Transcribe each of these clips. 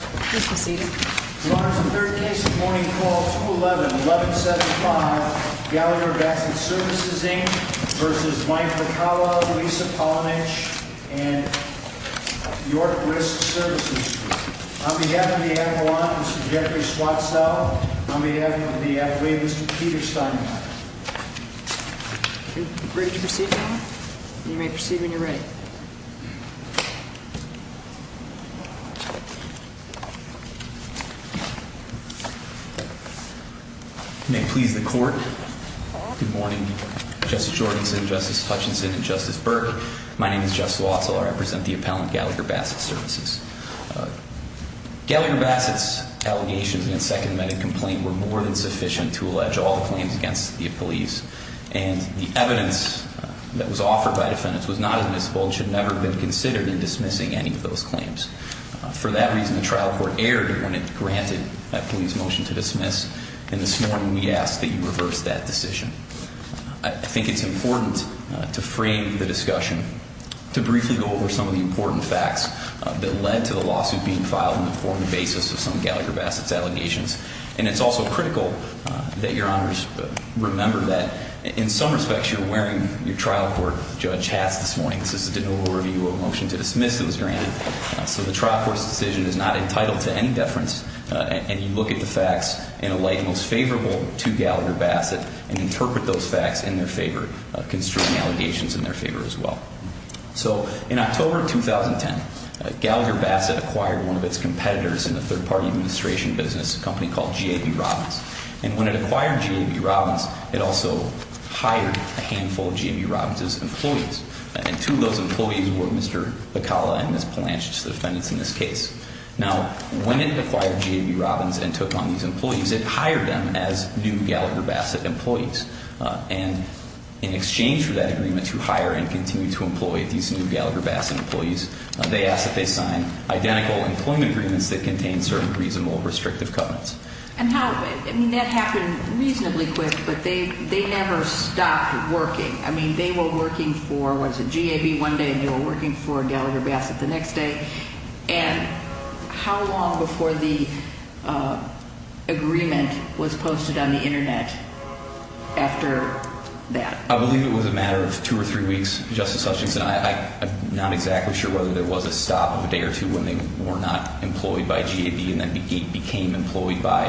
Now you may proceed when you are ready. May it please the court. Good morning. Justice Jorgensen, Justice Hutchinson, and Justice Burke. My name is Jeff Swatzeler. I represent the appellant Gallagher-Bassett Services. Gallagher-Bassett's allegations in his second medical complaint were more than sufficient to allege all the claims against the police, and the evidence that was offered by defendants was not admissible and should never have been considered in dismissing any of those Thank you. Thank you. Thank you. Thank you. Thank you. Thank you. Thank you. Thank you. Thank you. Thank you. Thank you. In his second medical complaint on tournament issues, the trial court aired when it granted that police motion to dismiss, and this morning we ask that you reverse that decision. I think it's important to frame the discussion, to briefly go over some of the important facts that led to the lawsuit being filed on the forum of basis of some Gallagher-Bassett's allegations. And it's also critical that your honors remember that in some respects, you were wearing your trial court judge hats this morning, this is a denial of review of a motion to dismiss that was granted. So the trial court's decision is not entitled to any deference, and you look at the facts in a light most favorable to Gallagher-Bassett, and interpret those facts in their favor, construing allegations in their favor as well. So in October of 2010, Gallagher-Bassett acquired one of its competitors in the third-party administration business, a company called GAB Robbins. And when it acquired GAB Robbins, it also hired a handful of GAB Robbins' employees. And two of those employees were Mr. Acala and Ms. Palanchich, the defendants in this case. Now, when it acquired GAB Robbins and took on these employees, it hired them as new Gallagher-Bassett employees. And in exchange for that agreement to hire and continue to employ these new Gallagher-Bassett employees, they asked that they sign identical employment agreements that contain certain reasonable restrictive covenants. And how, I mean, that happened reasonably quick, but they never stopped working. I mean, they were working for, what is it, GAB one day and they were working for Gallagher-Bassett the next day. And how long before the agreement was posted on the Internet after that? I believe it was a matter of two or three weeks, Justice Hutchinson. I'm not exactly sure whether there was a stop of a day or two when they were not employed by GAB and then became employed by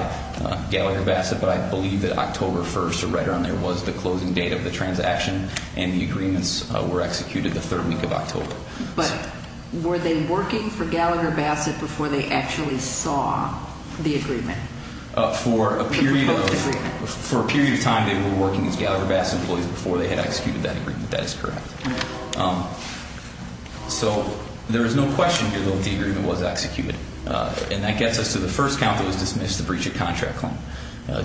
Gallagher-Bassett, but I believe that October 1st or right around there was the closing date of the transaction and the agreements were executed the third week of October. But were they working for Gallagher-Bassett before they actually saw the agreement? For a period of time, they were working as Gallagher-Bassett employees before they had executed that agreement. That is correct. So there is no question here, though, that the agreement was executed. And that gets us to the first count that was dismissed, the breach of contract claim.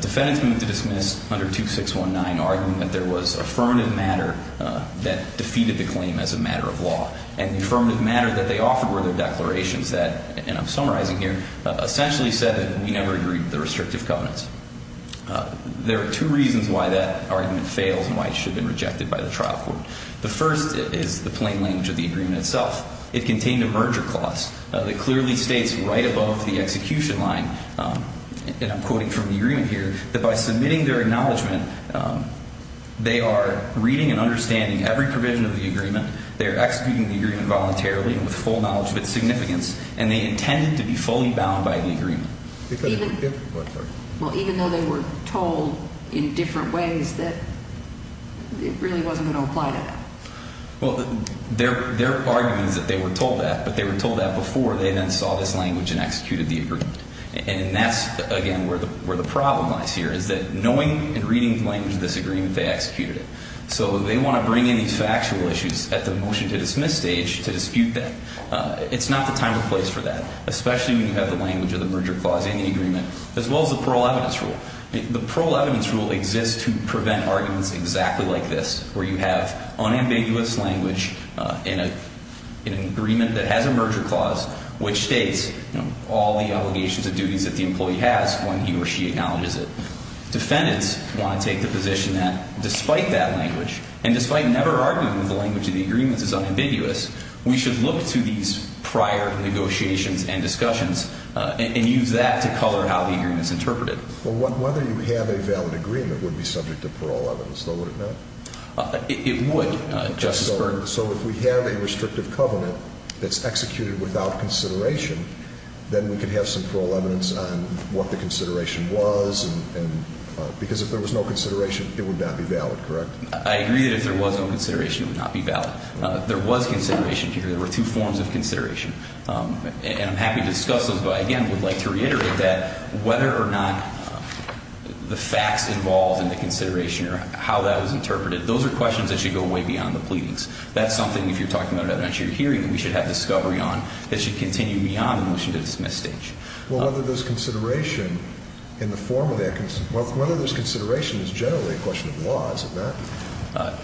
Defendants moved to dismiss under 2619, arguing that there was affirmative matter that defeated the claim as a matter of law. And the affirmative matter that they offered were their declarations that, and I'm summarizing here, essentially said that we never agreed to the restrictive covenants. There are two reasons why that argument fails and why it should have been rejected by the trial court. The first is the plain language of the agreement itself. It contained a merger clause that clearly states right above the execution line, and I'm quoting from the agreement here, that by submitting their acknowledgment, they are reading and understanding every provision of the agreement, they are executing the agreement voluntarily with full knowledge of its significance, and they intended to be fully bound by the agreement. Well, even though they were told in different ways that it really wasn't going to apply to them. Well, their argument is that they were told that, but they were told that before they then saw this language and executed the agreement. And that's, again, where the problem lies here, is that knowing and reading the language of this agreement, they executed it. So they want to bring in these factual issues at the motion to dismiss stage to dispute that. It's not the time or place for that, especially when you have the language of the merger clause in the agreement, as well as the parole evidence rule. The parole evidence rule exists to prevent arguments exactly like this, where you have unambiguous language in an agreement that has a merger clause, which states all the obligations and duties that the employee has when he or she acknowledges it. Defendants want to take the position that, despite that language, and despite never arguing that the language of the agreement is unambiguous, we should look to these prior negotiations and discussions and use that to color how the agreement is interpreted. Well, whether you have a valid agreement would be subject to parole evidence, though, would it not? It would, Justice Byrd. So if we have a restrictive covenant that's executed without consideration, then we could have some parole evidence on what the consideration was, because if there was no consideration, it would not be valid, correct? I agree that if there was no consideration, it would not be valid. There was consideration here. There were two forms of consideration, and I'm happy to discuss those, but I, again, would like to reiterate that whether or not the facts involved in the consideration or how that was interpreted, those are questions that should go way beyond the pleadings. That's something, if you're talking about an evidentiary hearing, that we should have at this stage. Well, whether there's consideration in the form of that, whether there's consideration is generally a question of law, is it not?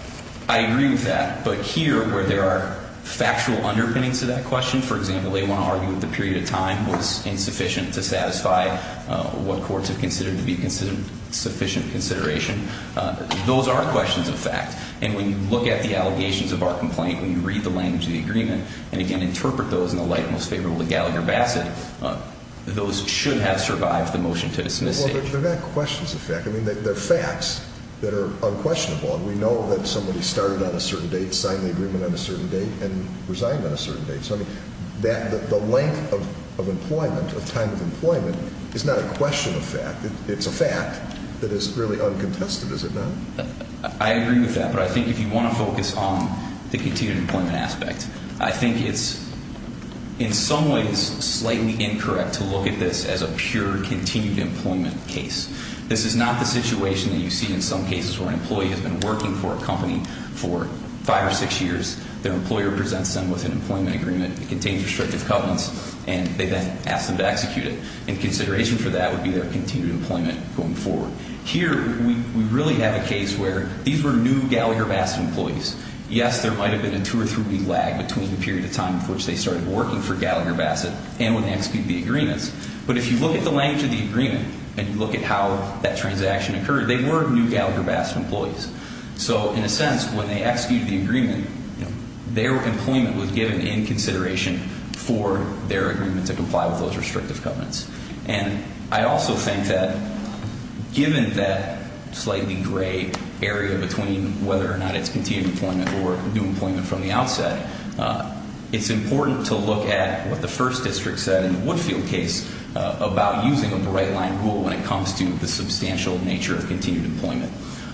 I agree with that, but here, where there are factual underpinnings to that question, for example, they want to argue that the period of time was insufficient to satisfy what courts have considered to be sufficient consideration, those are questions of fact, and when you look at the allegations of our complaint, when you read the language of the agreement and, again, interpret those in the light most favorable to Gallagher-Bassett, those should have survived the motion to dismiss it. Well, they're not questions of fact. I mean, they're facts that are unquestionable, and we know that somebody started on a certain date, signed the agreement on a certain date, and resigned on a certain date, so I mean, the length of employment, of time of employment, is not a question of fact. It's a fact that is really uncontested, is it not? I agree with that, but I think if you want to focus on the continued employment aspect, I think it's, in some ways, slightly incorrect to look at this as a pure continued employment case. This is not the situation that you see in some cases where an employee has been working for a company for five or six years, their employer presents them with an employment agreement, it contains restrictive covenants, and they then ask them to execute it. And consideration for that would be their continued employment going forward. Here, we really have a case where these were new Gallagher-Bassett employees. Yes, there might have been a two or three week lag between the period of time in which they started working for Gallagher-Bassett and when they executed the agreements, but if you look at the length of the agreement, and you look at how that transaction occurred, they were new Gallagher-Bassett employees. So in a sense, when they executed the agreement, their employment was given in consideration for their agreement to comply with those restrictive covenants. And I also think that, given that slightly gray area between whether or not it's continued employment or new employment from the outset, it's important to look at what the first district said in the Woodfield case about using a bright line rule when it comes to the substantial nature of continued employment.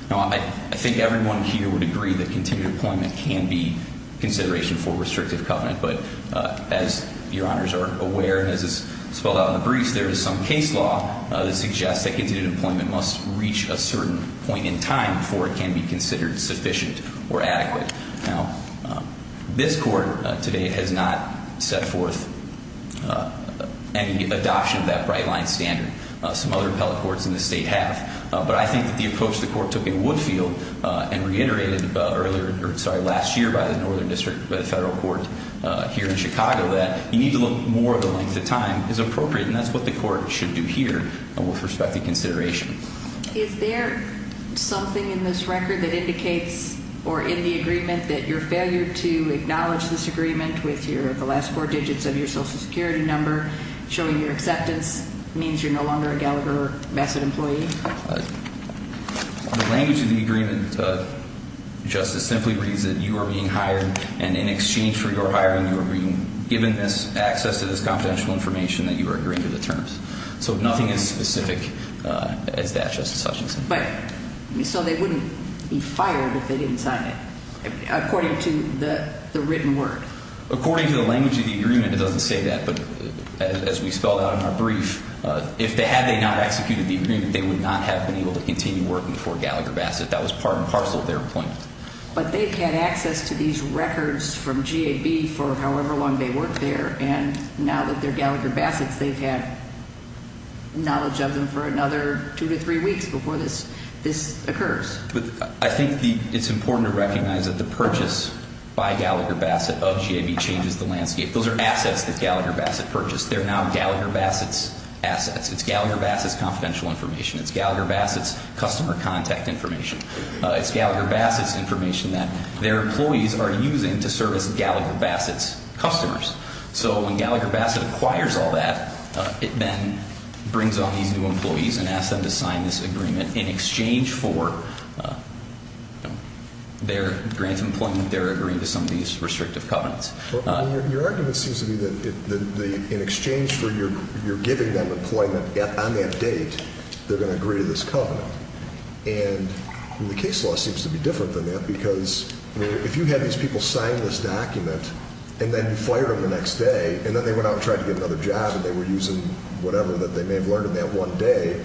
Now, I think everyone here would agree that continued employment can be consideration for restrictive covenant, but as your honors are aware, and as is spelled out in the briefs, there is some case law that suggests that continued employment must reach a certain point in time before it can be considered sufficient or adequate. Now, this court today has not set forth any adoption of that bright line standard. Some other appellate courts in the state have, but I think that the approach the court took in Woodfield and reiterated last year by the northern district, by the federal court here in Chicago, that you need to look more at the length of time is appropriate, and that's what the court should do here with respect to consideration. Is there something in this record that indicates, or in the agreement, that your failure to acknowledge this agreement with the last four digits of your social security number, showing your acceptance, means you're no longer a Gallagher-Massad employee? The language of the agreement, Justice, simply reads that you are being hired, and in exchange for your hiring, you are being given access to this confidential information that you are agreeing to the terms. So nothing as specific as that, Justice Hutchinson. But, so they wouldn't be fired if they didn't sign it, according to the written word? According to the language of the agreement, it doesn't say that, but as we spelled out in our brief, if they had not executed the agreement, they would not have been able to continue working for Gallagher-Massad. That was part and parcel of their employment. But they've had access to these records from GAB for however long they worked there, and now that they're Gallagher-Massads, they've had knowledge of them for another two to three weeks before this occurs. I think it's important to recognize that the purchase by Gallagher-Massad of GAB changes the landscape. Those are assets that Gallagher-Massad purchased. They're now Gallagher-Massad's assets. It's Gallagher-Massad's confidential information. It's Gallagher-Massad's customer contact information. It's Gallagher-Massad's information that their employees are using to service Gallagher-Massad's customers. So when Gallagher-Massad acquires all that, it then brings on these new employees and asks them to sign this agreement in exchange for their grant of employment. They're agreeing to some of these restrictive covenants. Your argument seems to me that in exchange for your giving them employment on that date, they're going to agree to this covenant. And the case law seems to be different than that because if you had these people sign this document and then fired them the next day and then they went out and tried to get another job and they were using whatever that they may have learned in that one day,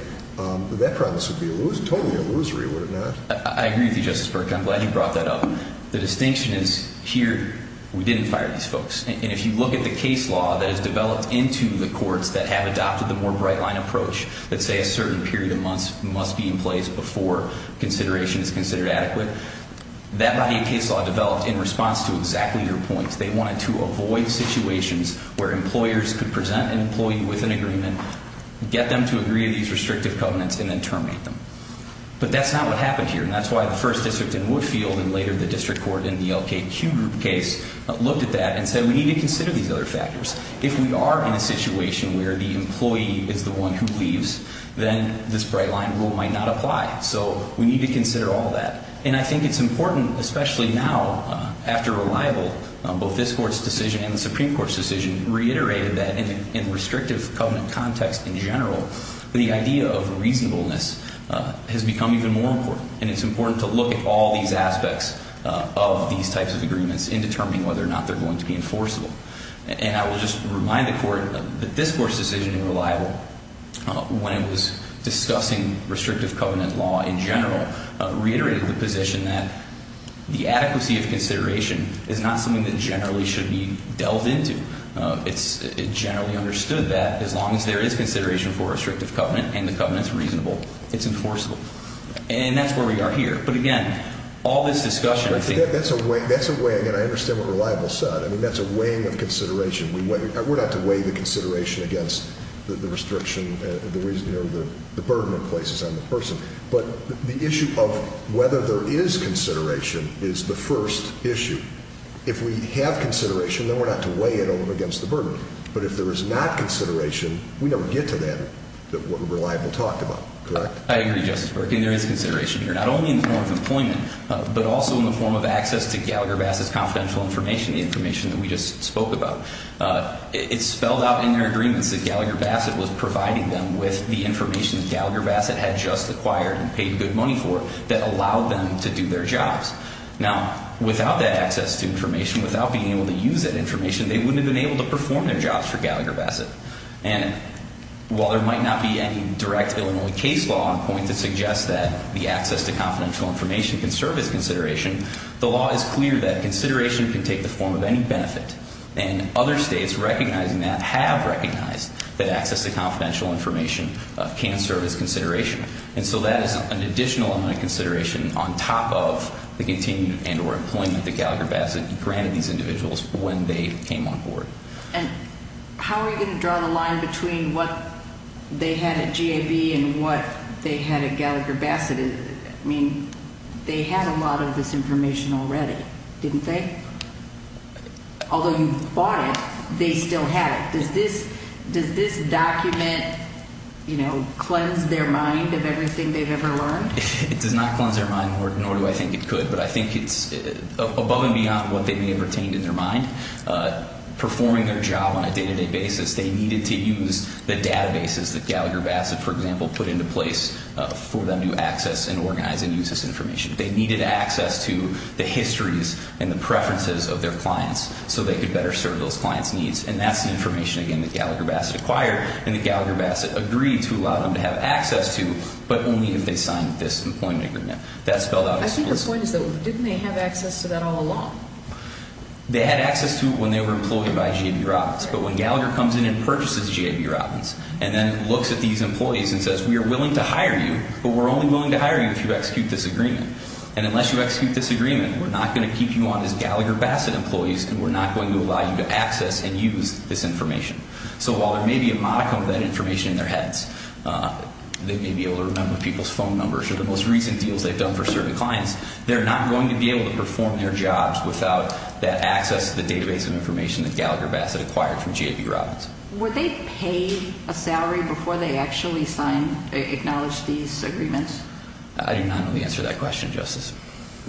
that premise would be totally illusory, would it not? I agree with you, Justice Berk. I'm glad you brought that up. The distinction is here, we didn't fire these folks. And if you look at the case law that has developed into the courts that have adopted the more bright-line approach that say a certain period of months must be in place before consideration is considered adequate, that body of case law developed in response to exactly your points. They wanted to avoid situations where employers could present an employee with an agreement, get them to agree to these restrictive covenants, and then terminate them. But that's not what happened here. And that's why the first district in Woodfield and later the district court in the LKQ group case looked at that and said we need to consider these other factors. If we are in a situation where the employee is the one who leaves, then this bright-line rule might not apply. So we need to consider all that. And I think it's important, especially now after Reliable, both this Court's decision and the Supreme Court's decision reiterated that in a restrictive covenant context in general, the idea of reasonableness has become even more important. And it's important to look at all these aspects of these types of agreements in determining whether or not they're going to be enforceable. And I will just remind the Court that this Court's decision in Reliable, when it was discussing restrictive covenant law in general, reiterated the position that the adequacy of consideration is not something that generally should be delved into. It's generally understood that as long as there is consideration for restrictive covenant and the covenant's reasonable, it's enforceable. And that's where we are here. But again, all this discussion, I think... That's a way. That's a way. Again, I understand what Reliable said. I mean, that's a weighing of consideration. We're not to weigh the consideration against the burden it places on the person. But the issue of whether there is consideration is the first issue. If we have consideration, then we're not to weigh it against the burden. But if there is not consideration, we never get to that, what Reliable talked about. Correct? I agree, Justice Berkley. There is consideration here, not only in the form of employment, but also in the form of access to Gallagher-Vass's confidential information, the information that we just spoke about. It's spelled out in their agreements that Gallagher-Vasset was providing them with the information that Gallagher-Vasset had just acquired and paid good money for that allowed them to do their jobs. Now, without that access to information, without being able to use that information, they wouldn't have been able to perform their jobs for Gallagher-Vasset. And while there might not be any direct Illinois case law on point to suggest that the access to confidential information can serve as consideration, the law is clear that consideration can take the form of any benefit. And other states recognizing that have recognized that access to confidential information can serve as consideration. And so that is an additional amount of consideration on top of the continued and or employment that Gallagher-Vasset granted these individuals when they came on board. And how are you going to draw the line between what they had at GAB and what they had at Gallagher-Vasset? I mean, they had a lot of this information already, didn't they? Although you bought it, they still had it. Does this document cleanse their mind of everything they've ever learned? It does not cleanse their mind, nor do I think it could. But I think it's above and beyond what they may have retained in their mind. Performing their job on a day-to-day basis, they needed to use the databases that Gallagher-Vasset, for example, put into place for them to access and organize and use this information. They needed access to the histories and the preferences of their clients so they could better serve those clients' needs. And that's the information, again, that Gallagher-Vasset acquired and that Gallagher-Vasset agreed to allow them to have access to, but only if they signed this employment agreement. That's spelled out explicitly. I think the point is, though, didn't they have access to that all along? They had access to it when they were employed by GAB Robbins. But when Gallagher comes in and purchases GAB Robbins and then looks at these employees and says, we are willing to hire you, but we're only willing to hire you if you execute this agreement. And unless you execute this agreement, we're not going to keep you on as Gallagher-Vasset employees and we're not going to allow you to access and use this information. So while there may be a modicum of that information in their heads, they may be able to remember people's phone numbers or the most recent deals they've done for certain clients, they're not going to be able to perform their jobs without that access to the database of information that Gallagher-Vasset acquired from GAB Robbins. Were they paid a salary before they actually signed, acknowledged these agreements? I do not know the answer to that question, Justice.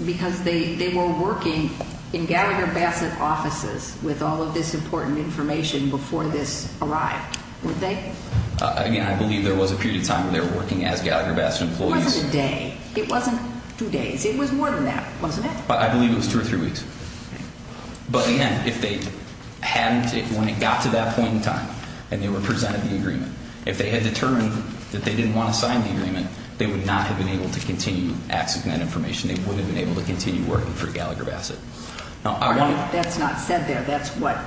Because they were working in Gallagher-Vasset offices with all of this important information before this arrived, were they? Again, I believe there was a period of time where they were working as Gallagher-Vasset employees. It wasn't a day. It wasn't two days. It was more than that, wasn't it? I believe it was two or three weeks. But again, if they hadn't, if when it got to that point in time and they were presented the agreement, if they had determined that they didn't want to sign the agreement, they would not have been able to continue accessing that information. They wouldn't have been able to continue working for Gallagher-Vasset. That's not said there. That's what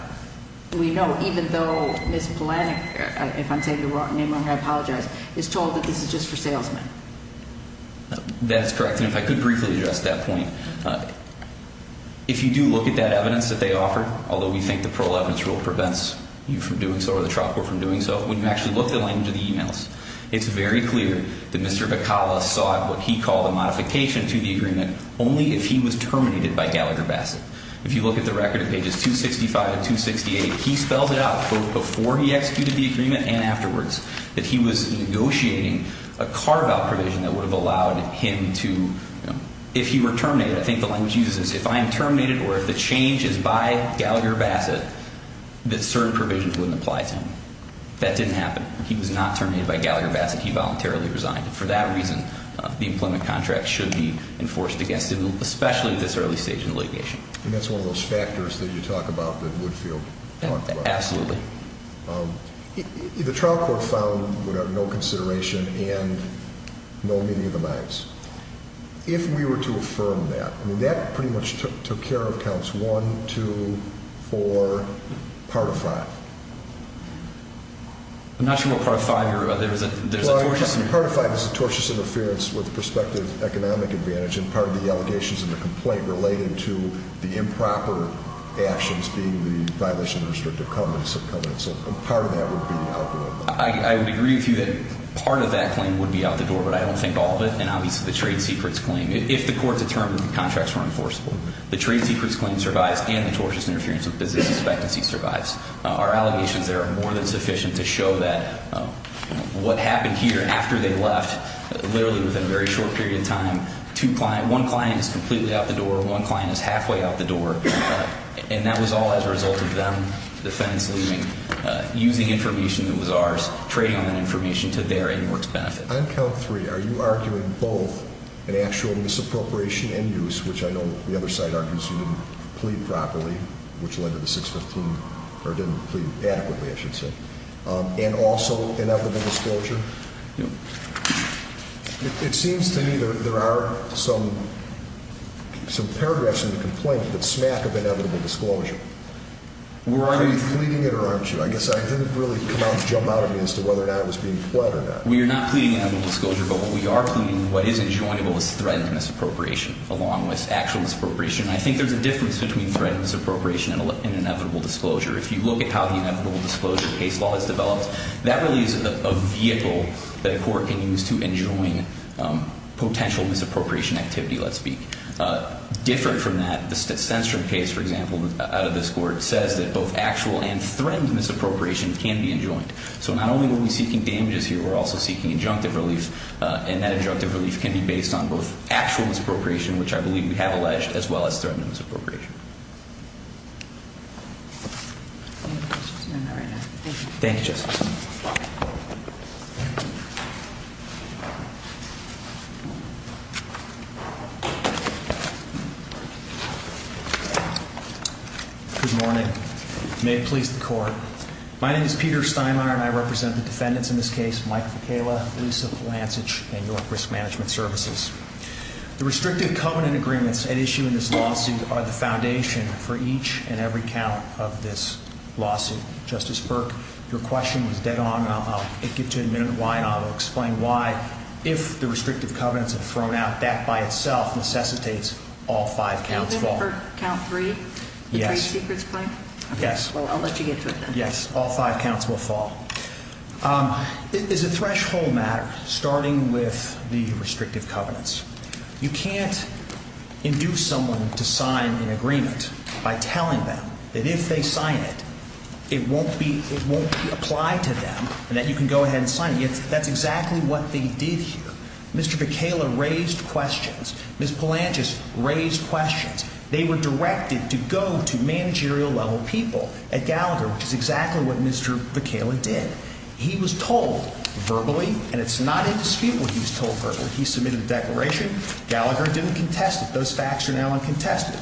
we know. Even though Ms. Polanyi, if I'm saying the wrong name, I apologize, is told that this is just for salesmen. That's correct. And if I could briefly address that point, if you do look at that evidence that they offer, although we think the parole evidence rule prevents you from doing so or the trial court from doing so, when you actually look at the emails, it's very clear that Mr. Bacala sought what he called a modification to the agreement only if he was terminated by Gallagher-Vasset. If you look at the record at pages 265 and 268, he spells it out, both before he executed the agreement and afterwards, that he was negotiating a carve-out provision that would have allowed him to, if he were terminated, I think the language used is if I am terminated or if the change is by Gallagher-Vasset, that certain provisions wouldn't apply to him. That didn't happen. He was not terminated by Gallagher-Vasset. He voluntarily resigned. For that reason, the employment contract should be enforced against him, especially at this early stage in the litigation. And that's one of those factors that you talk about that Woodfield talked about. Absolutely. The trial court found no consideration and no meeting of the minds. If we were to affirm that, I mean, that pretty much took care of counts one, two, four, part of five. I'm not sure what part of five you're, there's a tortuous. Part of five is a tortious interference with the prospective economic advantage and part of the allegations in the complaint related to the improper actions being the violation of restrictive covenants. So part of that would be outlawed. I would agree with you that part of that claim would be out the door, but I don't think all of it. And obviously the trade secrets claim, if the court determined the contracts were enforceable, the trade secrets claim survives and the tortious interference with business expectancy survives. Our allegations there are more than sufficient to show that what happened here after they left, literally within a very short period of time, one client is completely out the door, one client is halfway out the door. And that was all as a result of them, the defendants leaving, using information that was ours, trading on that information to their in works benefit. On count three, are you arguing both an actual misappropriation and use, which I know the other side argues you didn't plead properly, which led to the or didn't plead adequately, I should say. And also inevitable disclosure. It seems to me that there are some paragraphs in the complaint that smack of inevitable disclosure. Were you pleading it or aren't you? I guess I didn't really come out and jump out at me as to whether or not it was being pled or not. We are not pleading inevitable disclosure, but what we are pleading, what isn't joinable is threatened misappropriation along with actual misappropriation. I think there's a difference between threatened misappropriation and inevitable disclosure. If you look at how the inevitable disclosure case law is developed, that really is a vehicle that a court can use to enjoin potential misappropriation activity, let's speak. Different from that, the censored case, for example, out of this court says that both actual and threatened misappropriation can be enjoined. So not only are we seeking damages here, we're also seeking injunctive relief. And that injunctive relief can be based on both actual misappropriation, which I believe we have alleged, as well as threatened misappropriation. Any other questions? No, not right now. Thank you. Thank you, Justice. Good morning. May it please the court. My name is Peter Steinmeier, and I represent the defendants in this case, Mike Ficala, Lisa Polansich, and York Risk Management Services. The restrictive covenant agreements at issue in this lawsuit are the foundation for each and every count of this lawsuit. Justice Burke, your question was dead on, and I'll get to it in a minute why, and I'll explain why. If the restrictive covenants are thrown out, that by itself necessitates all five counts fall. You mean for count three? Yes. The three secrets claim? Yes. Well, I'll let you get to it then. Yes. All five counts will fall. It's a threshold matter, starting with the restrictive covenants. You can't induce someone to sign an agreement by telling them that if they sign it, it won't be applied to them and that you can go ahead and sign it. That's exactly what they did here. Mr. Ficala raised questions. Ms. Polansich raised questions. They were directed to go to managerial level people at Gallagher, which is exactly what Mr. Ficala did. He was told verbally, and it's not indisputable he was told verbally. He submitted a declaration. Gallagher didn't contest it. Those facts are now uncontested.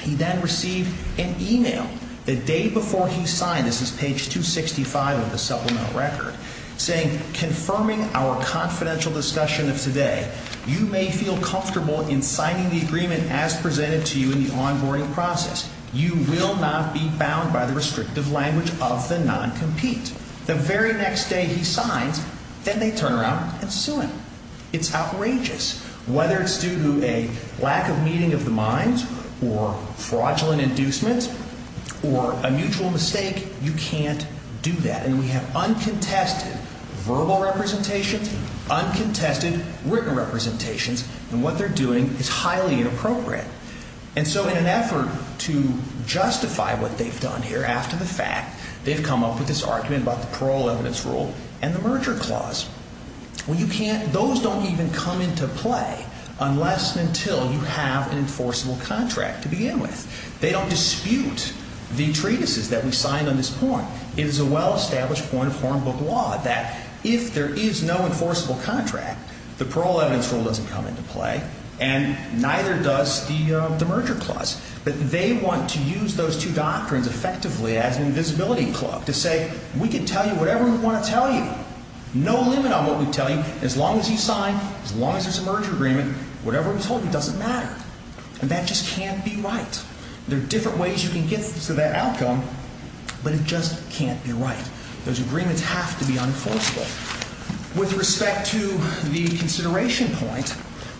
He then received an email the day before he signed, this is page 265 of the supplemental record, saying, confirming our confidential discussion of today, you may feel comfortable in signing the agreement as presented to you in the onboarding process. You will not be bound by the restrictive language of the non-compete. The very next day he signs, then they turn around and sue him. It's outrageous. Whether it's due to a lack of meeting of the minds or fraudulent inducement or a mutual mistake, you can't do that. And we have uncontested verbal representations, uncontested written representations, and what they're doing is highly inappropriate. And so in an effort to justify what they've done here after the fact, they've come up with this argument about the parole evidence rule and the merger clause. Well, you can't, those don't even come into play unless and until you have an enforceable contract to begin with. They don't dispute the treatises that we signed on this point. It is a well-established point of Hornbook law that if there is no enforceable contract, the parole evidence rule doesn't come into play and neither does the merger clause. But they want to use those two doctrines effectively as an invisibility cloak to say, we can tell you whatever we want to tell you, no limit on what we tell you. As long as you sign, as long as there's a merger agreement, whatever we told you doesn't matter. And that just can't be right. There are different ways you can get to that outcome, but it just can't be right. Those agreements have to be unenforceable. With respect to the consideration point,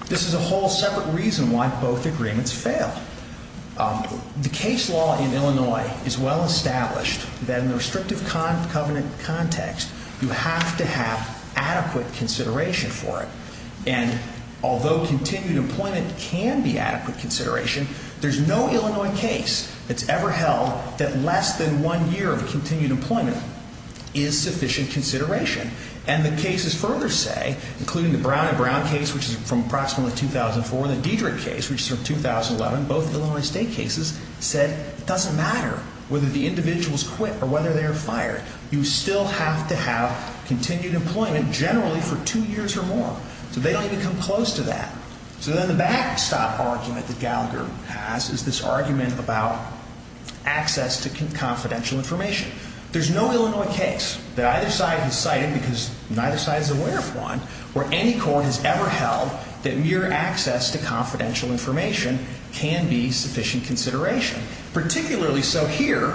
this is a whole separate reason why both agreements fail. The case law in Illinois is well-established that in the restrictive covenant context, you have to have adequate consideration for it. And although continued employment can be adequate consideration, there's no Illinois case that's ever held that less than one year of continued employment is sufficient consideration. And the cases further say, including the Brown v. Brown case, which is from approximately 2004, and the Diedrich case, which is from 2011, both Illinois state cases, said it doesn't matter whether the individuals quit or whether they are fired. You still have to have continued employment generally for two years or more. So they don't even come close to that. So then the backstop argument that Gallagher has is this argument about access to confidential information. There's no Illinois case that either side has cited, because neither side is aware of where any court has ever held that mere access to confidential information can be sufficient consideration. Particularly so here,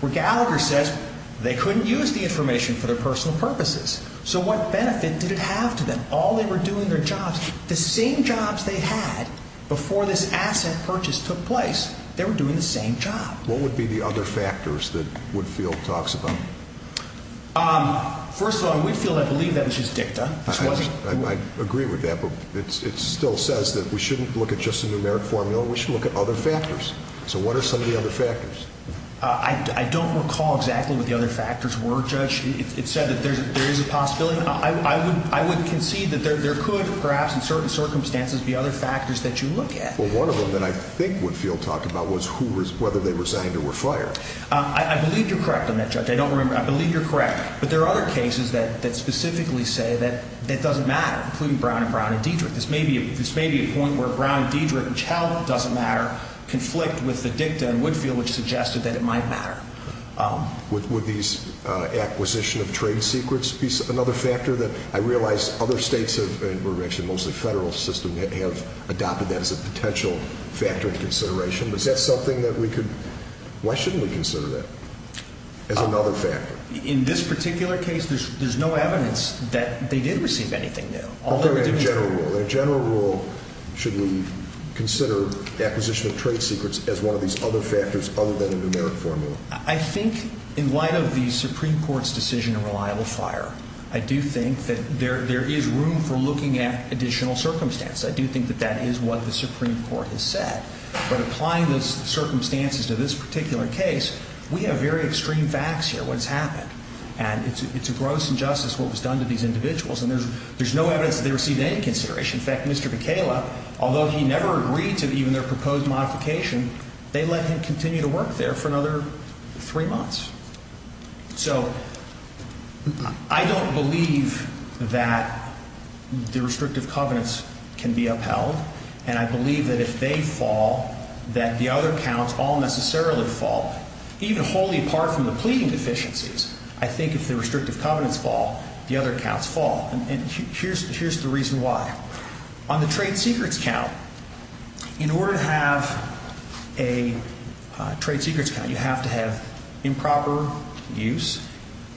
where Gallagher says they couldn't use the information for their personal purposes. So what benefit did it have to them? All they were doing their jobs, the same jobs they had before this asset purchase took place, they were doing the same job. What would be the other factors that Woodfield talks about? First of all, in Woodfield, I believe that was just dicta. I agree with that, but it still says that we shouldn't look at just a numeric formula. We should look at other factors. So what are some of the other factors? I don't recall exactly what the other factors were, Judge. It said that there is a possibility. I would concede that there could perhaps in certain circumstances be other factors that you look at. Well, one of them that I think Woodfield talked about was whether they resigned or were fired. I believe you're correct on that, Judge. I don't remember. I believe you're correct. But there are other cases that specifically say that that doesn't matter, including Brown and Brown and Diedrich. This may be a point where Brown, Diedrich, and Chow doesn't matter, conflict with the dicta in Woodfield, which suggested that it might matter. Would these acquisition of trade secrets be another factor that I realize other states have, and we're actually mostly a federal system, have adopted that as a potential factor of consideration? Is that something that we could, why shouldn't we consider that as another factor? In this particular case, there's no evidence that they did receive anything new. Although in a general rule, should we consider the acquisition of trade secrets as one of these other factors other than a numeric formula? I think in light of the Supreme Court's decision of reliable fire, I do think that there is room for looking at additional circumstances. I do think that that is what the Supreme Court has said. But applying those circumstances to this particular case, we have very extreme facts here. This is what has happened, and it's a gross injustice what was done to these individuals. And there's no evidence that they received any consideration. In fact, Mr. McKayla, although he never agreed to even their proposed modification, they let him continue to work there for another three months. So I don't believe that the restrictive covenants can be upheld, and I believe that if they fall, that the other counts all necessarily fall, even wholly apart from the pleading deficiencies. I think if the restrictive covenants fall, the other counts fall. And here's the reason why. On the trade secrets count, in order to have a trade secrets count, you have to have improper use,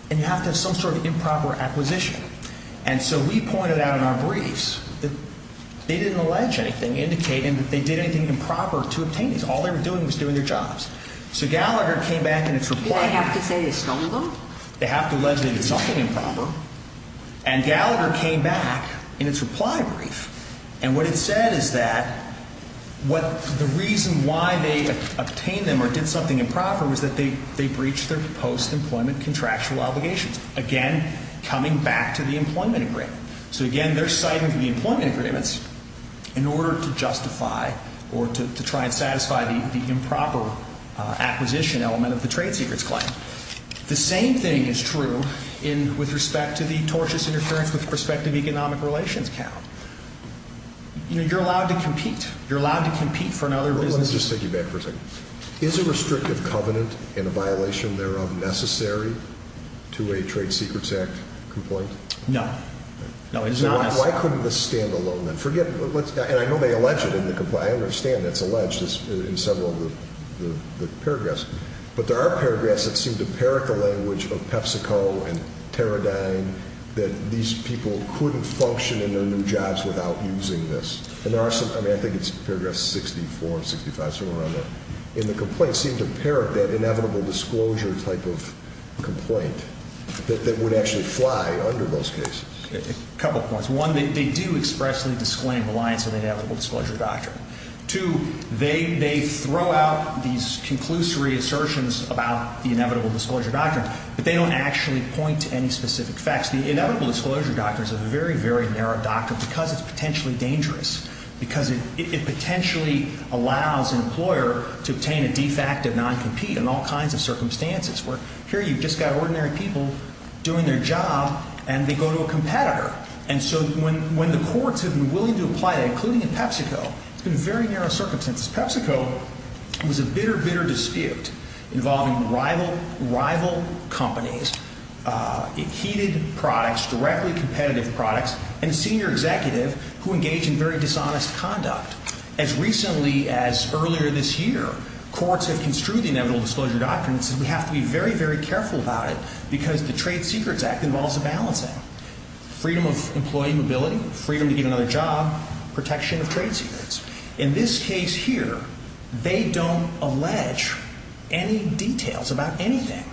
and you have to have some sort of improper acquisition. And so we pointed out in our briefs that they didn't allege anything indicating that they did anything improper to obtain these. All they were doing was doing their jobs. So Gallagher came back in his report. They have to say they stole them? They have to allege they did something improper. And Gallagher came back in his reply brief, and what it said is that the reason why they obtained them or did something improper was that they breached their post-employment contractual obligations, again, coming back to the employment agreement. So again, they're citing the employment agreements in order to justify or to try and The same thing is true with respect to the tortious interference with respect to the economic relations count. You're allowed to compete. You're allowed to compete for another business. Let me just take you back for a second. Is a restrictive covenant and a violation thereof necessary to a Trade Secrets Act complaint? No. No, it's not. Why couldn't this stand alone, then? Forget it. I understand that's alleged in several of the paragraphs. But there are paragraphs that seem to parrot the language of PepsiCo and Teradyne that these people couldn't function in their new jobs without using this. And there are some, I mean, I think it's paragraphs 64 and 65, somewhere around there. And the complaints seem to parrot that inevitable disclosure type of complaint that would actually fly under those cases. A couple points. One, they do expressly disclaim reliance on the inevitable disclosure doctrine. Two, they throw out these conclusory assertions about the inevitable disclosure doctrine, but they don't actually point to any specific facts. The inevitable disclosure doctrine is a very, very narrow doctrine because it's potentially dangerous, because it potentially allows an employer to obtain a de facto non-compete in all kinds of circumstances, where here you've just got ordinary people doing their job, and they go to a competitor. And so when the courts have been willing to apply that, including in PepsiCo, it's been very narrow circumstances. PepsiCo was a bitter, bitter dispute involving rival companies, heated products, directly competitive products, and a senior executive who engaged in very dishonest conduct. As recently as earlier this year, courts have construed the inevitable disclosure doctrine and said we have to be very, very careful about it because the Trade Secrets Act involves a balancing, freedom of employee mobility, freedom to get another job, protection of In this case here, they don't allege any details about anything.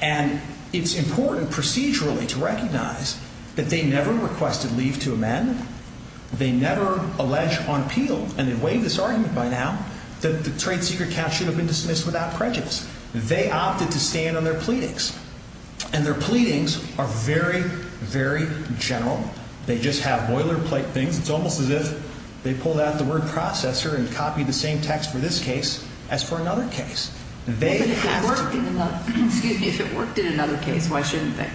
And it's important procedurally to recognize that they never requested leave to amend. They never allege on appeal, and they've waived this argument by now, that the Trade Secret Act should have been dismissed without prejudice. They opted to stand on their pleadings. And their pleadings are very, very general. They just have boilerplate things. It's almost as if they pulled out the word processor and copied the same text for this case as for another case. They have to be. But if it worked in another case, why shouldn't they?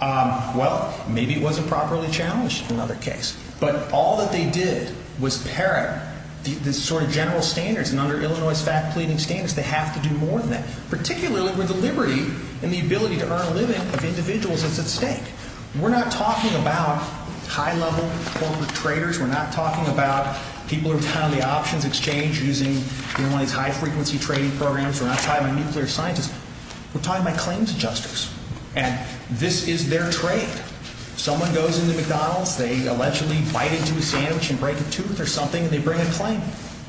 Well, maybe it wasn't properly challenged in another case. But all that they did was parrot the sort of general standards. And under Illinois' fact pleading standards, they have to do more than that, particularly with the liberty and the ability to earn a living of individuals that's at stake. We're not talking about high-level corporate traders. We're not talking about people who are kind of the options exchange using one of these high-frequency trading programs. We're not talking about nuclear scientists. We're talking about claims adjusters. And this is their trade. Someone goes into McDonald's, they allegedly bite into a sandwich and break a tooth or something, and they bring a claim.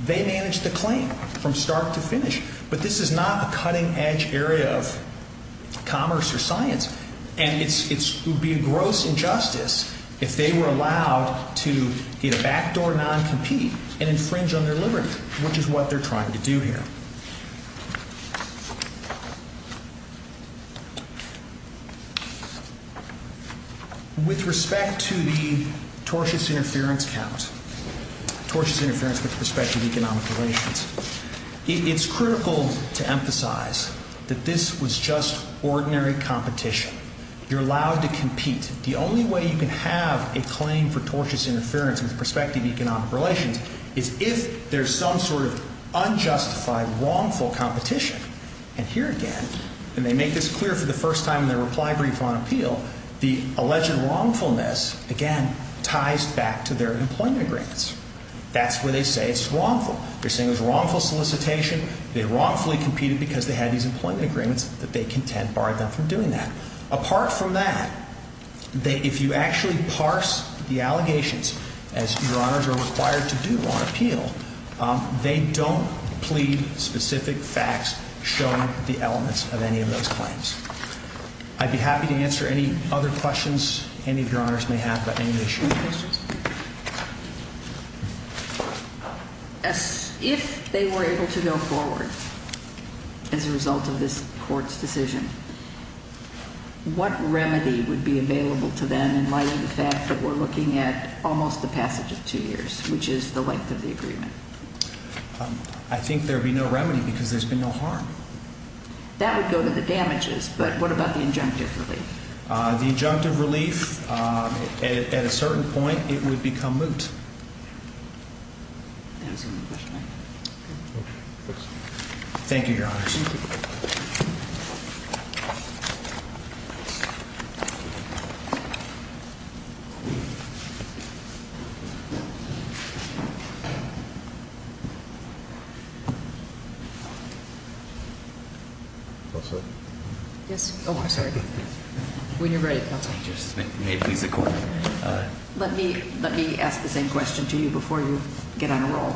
They manage the claim from start to finish. But this is not a cutting-edge area of commerce or science. And it would be a gross injustice if they were allowed to either backdoor or non-compete and infringe on their liberty, which is what they're trying to do here. With respect to the tortious interference count, tortious interference with respect to economic relations, it's critical to emphasize that this was just ordinary competition. You're allowed to compete. The only way you can have a claim for tortious interference with respect to economic relations is if there's some sort of unjustified, wrongful competition. And here again, and they make this clear for the first time in their reply brief on appeal, the alleged wrongfulness, again, ties back to their employment agreements. That's where they say it's wrongful. They're saying it was wrongful solicitation. They wrongfully competed because they had these employment agreements that they contend barred them from doing that. Apart from that, if you actually parse the allegations, as Your Honors are required to do on appeal, they don't plead specific facts showing the elements of any of those claims. I'd be happy to answer any other questions any of Your Honors may have about any of these questions. If they were able to go forward as a result of this court's decision, what remedy would be available to them in light of the fact that we're looking at almost the passage of two years, which is the length of the agreement? I think there'd be no remedy because there's been no harm. That would go to the damages, but what about the injunctive relief? The injunctive relief, at a certain point, it would become moot. That's a good question. Thank you, Your Honors. When you're ready, Counsel. Let me ask the same question to you before you get on a roll.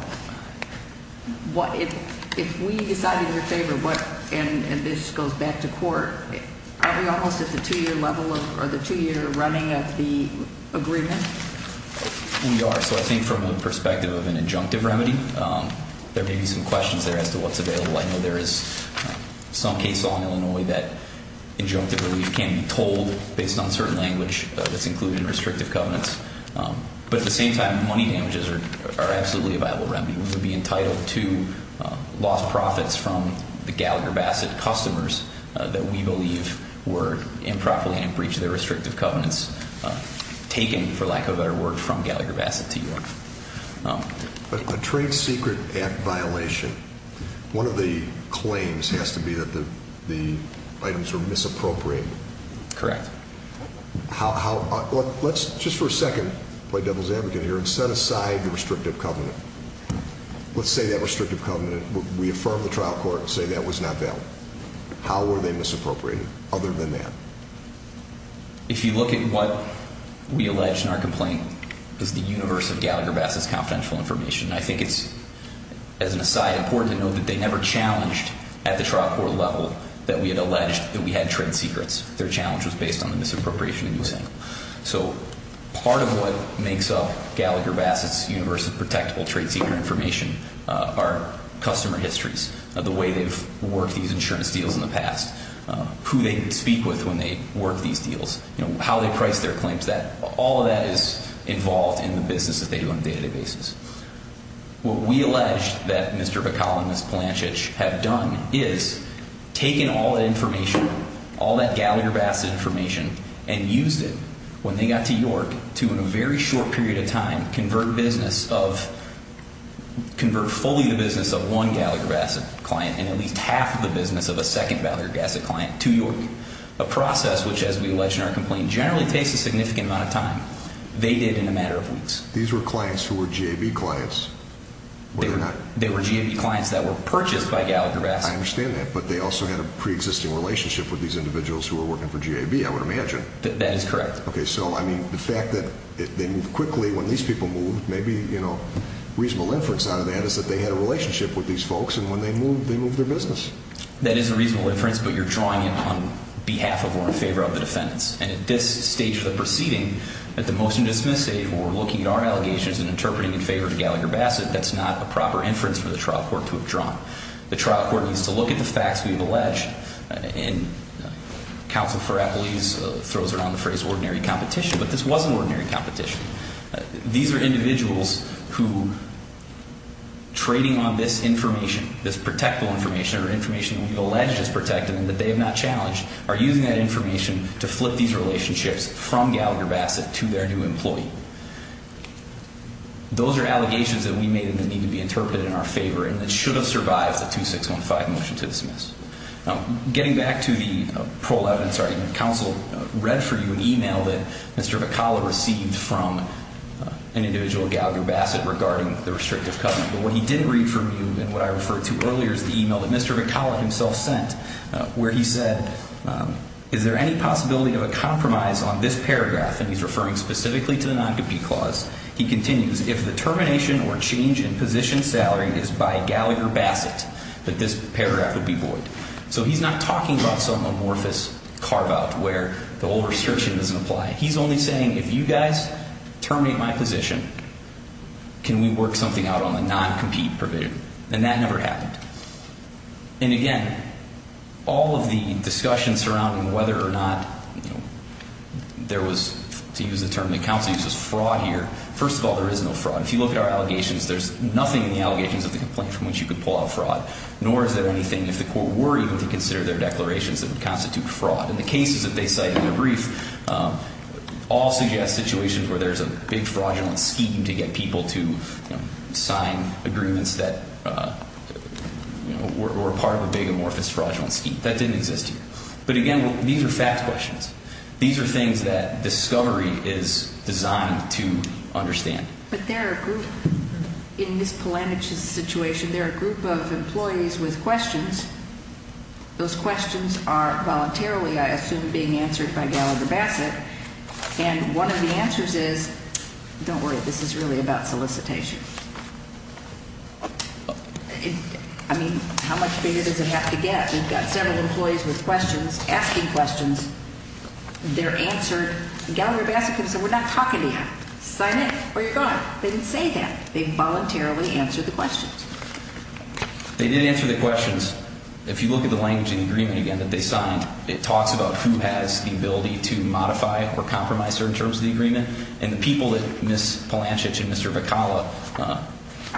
If we decided in your favor and this goes back to court, aren't we almost at the two-year level or the two-year running of the agreement? We are. So I think from the perspective of an injunctive remedy, there may be some questions there as to what's available. I know there is some case law in Illinois that injunctive relief can't be told based on certain language that's included in restrictive covenants. But at the same time, money damages are absolutely a viable remedy. We would be entitled to lost profits from the Gallagher Bassett customers that we believe were improperly in breach of their restrictive covenants taken, for lack of a better word, from Gallagher Bassett to you. But a trade secret act violation, one of the claims has to be that the items were misappropriated. Correct. How, let's just for a second play devil's advocate here and set aside the restrictive covenant. Let's say that restrictive covenant, we affirm the trial court and say that was not valid. How were they misappropriated other than that? If you look at what we allege in our complaint is the universe of Gallagher Bassett's confidential information. I think it's, as an aside, important to know that they never challenged at the trial court level that we had alleged that we had trade secrets. Their challenge was based on the misappropriation and mishandling. So part of what makes up Gallagher Bassett's universe of protectable trade secret information are customer histories of the way they've worked these insurance deals in the past, who they speak with when they work these deals, how they price their claims, that all of that is involved in the business that they do on a daily basis. What we allege that Mr. Bakala and Ms. Palanchich have done is taken all that information, all that Gallagher Bassett information, and used it when they got to York to, in a very short period of time, convert business of, convert fully the business of one Gallagher Bassett client and at least half of the business of a second Gallagher Bassett client to York, a process which, as we allege in our complaint, generally takes a significant amount of time. They did in a matter of weeks. These were clients who were GAB clients. They were GAB clients that were purchased by Gallagher Bassett. I understand that, but they also had a pre-existing relationship with these individuals who were working for GAB, I would imagine. That is correct. Okay, so, I mean, the fact that they moved quickly, when these people moved, maybe, you know, reasonable inference out of that is that they had a relationship with these individuals, so they moved their business. That is a reasonable inference, but you're drawing it on behalf of or in favor of the defendants. And at this stage of the proceeding, at the motion to dismiss stage, where we're looking at our allegations and interpreting in favor of Gallagher Bassett, that's not a proper inference for the trial court to have drawn. The trial court needs to look at the facts we've alleged, and counsel Farapolese throws around the phrase ordinary competition, but this wasn't ordinary competition. These are individuals who, trading on this information, this protectable information or information that we've alleged is protected and that they have not challenged, are using that information to flip these relationships from Gallagher Bassett to their new employee. Those are allegations that we made and that need to be interpreted in our favor and that should have survived the 2615 motion to dismiss. Getting back to the prole evidence argument, counsel read for you an email that Mr. McAuliffe himself sent where he said, is there any possibility of a compromise on this paragraph? And he's referring specifically to the non-compete clause. He continues, if the termination or change in position salary is by Gallagher Bassett, that this paragraph would be void. So he's not talking about some amorphous carve out where the old restriction doesn't apply. He's only saying, if you guys terminate my position, can we work something out on the non-compete provision? And that never happened. And again, all of the discussion surrounding whether or not there was, to use the term that counsel uses, fraud here. First of all, there is no fraud. If you look at our allegations, there's nothing in the allegations of the complaint from which you could pull out fraud, nor is there anything if the court were even to consider their declarations that would constitute fraud. And the cases that they cite in their brief all suggest situations where there's a big fraudulent scheme to get people to sign agreements that were part of a big amorphous fraudulent scheme. That didn't exist here. But again, these are fact questions. These are things that discovery is designed to understand. But there are a group in Ms. Polanyi's situation, there are a group of employees with questions. Those questions are voluntarily, I assume, being answered by Gallagher-Bassett. And one of the answers is, don't worry, this is really about solicitation. I mean, how much bigger does it have to get? We've got several employees with questions, asking questions. They're answered. Gallagher-Bassett can say, we're not talking to you. Sign in, or you're gone. They didn't say that. They voluntarily answered the questions. They did answer the questions. If you look at the language in the agreement, again, that they signed, it talks about who has the ability to modify or compromise certain terms of the agreement. And the people that Ms. Polanschich and Mr. Vakala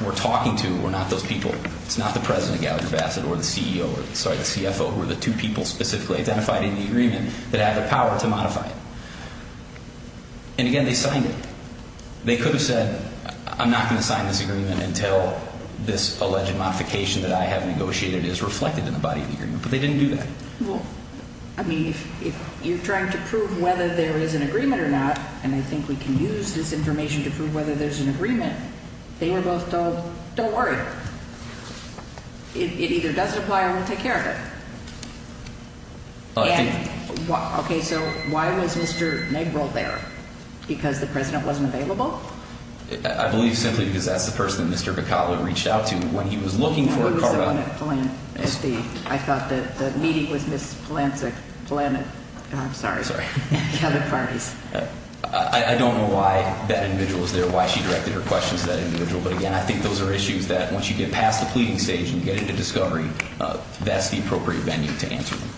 were talking to were not those people. It's not the president of Gallagher-Bassett or the CEO, or sorry, the CFO, who are the two people specifically identified in the agreement that have the power to modify it. And again, they signed it. They could have said, I'm not going to sign this agreement until this alleged modification that I have negotiated is reflected in the body of the agreement. But they didn't do that. Well, I mean, if you're trying to prove whether there is an agreement or not, and I think we can use this information to prove whether there's an agreement, they were both told, don't worry. It either doesn't apply or we'll take care of it. And, okay, so why was Mr. Negril there? Because the president wasn't available? I believe simply because that's the person that Mr. Vakala reached out to when he was looking for a partner. It was someone at the, I thought the meeting was Ms. Polanschich, I'm sorry, at the other parties. I don't know why that individual was there, why she directed her questions to that individual. But again, I think those are issues that once you get past the pleading stage and get into discovery, that's the appropriate venue to answer them.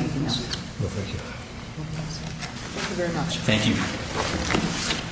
Anything else? No, thank you. Thank you very much. Thank you.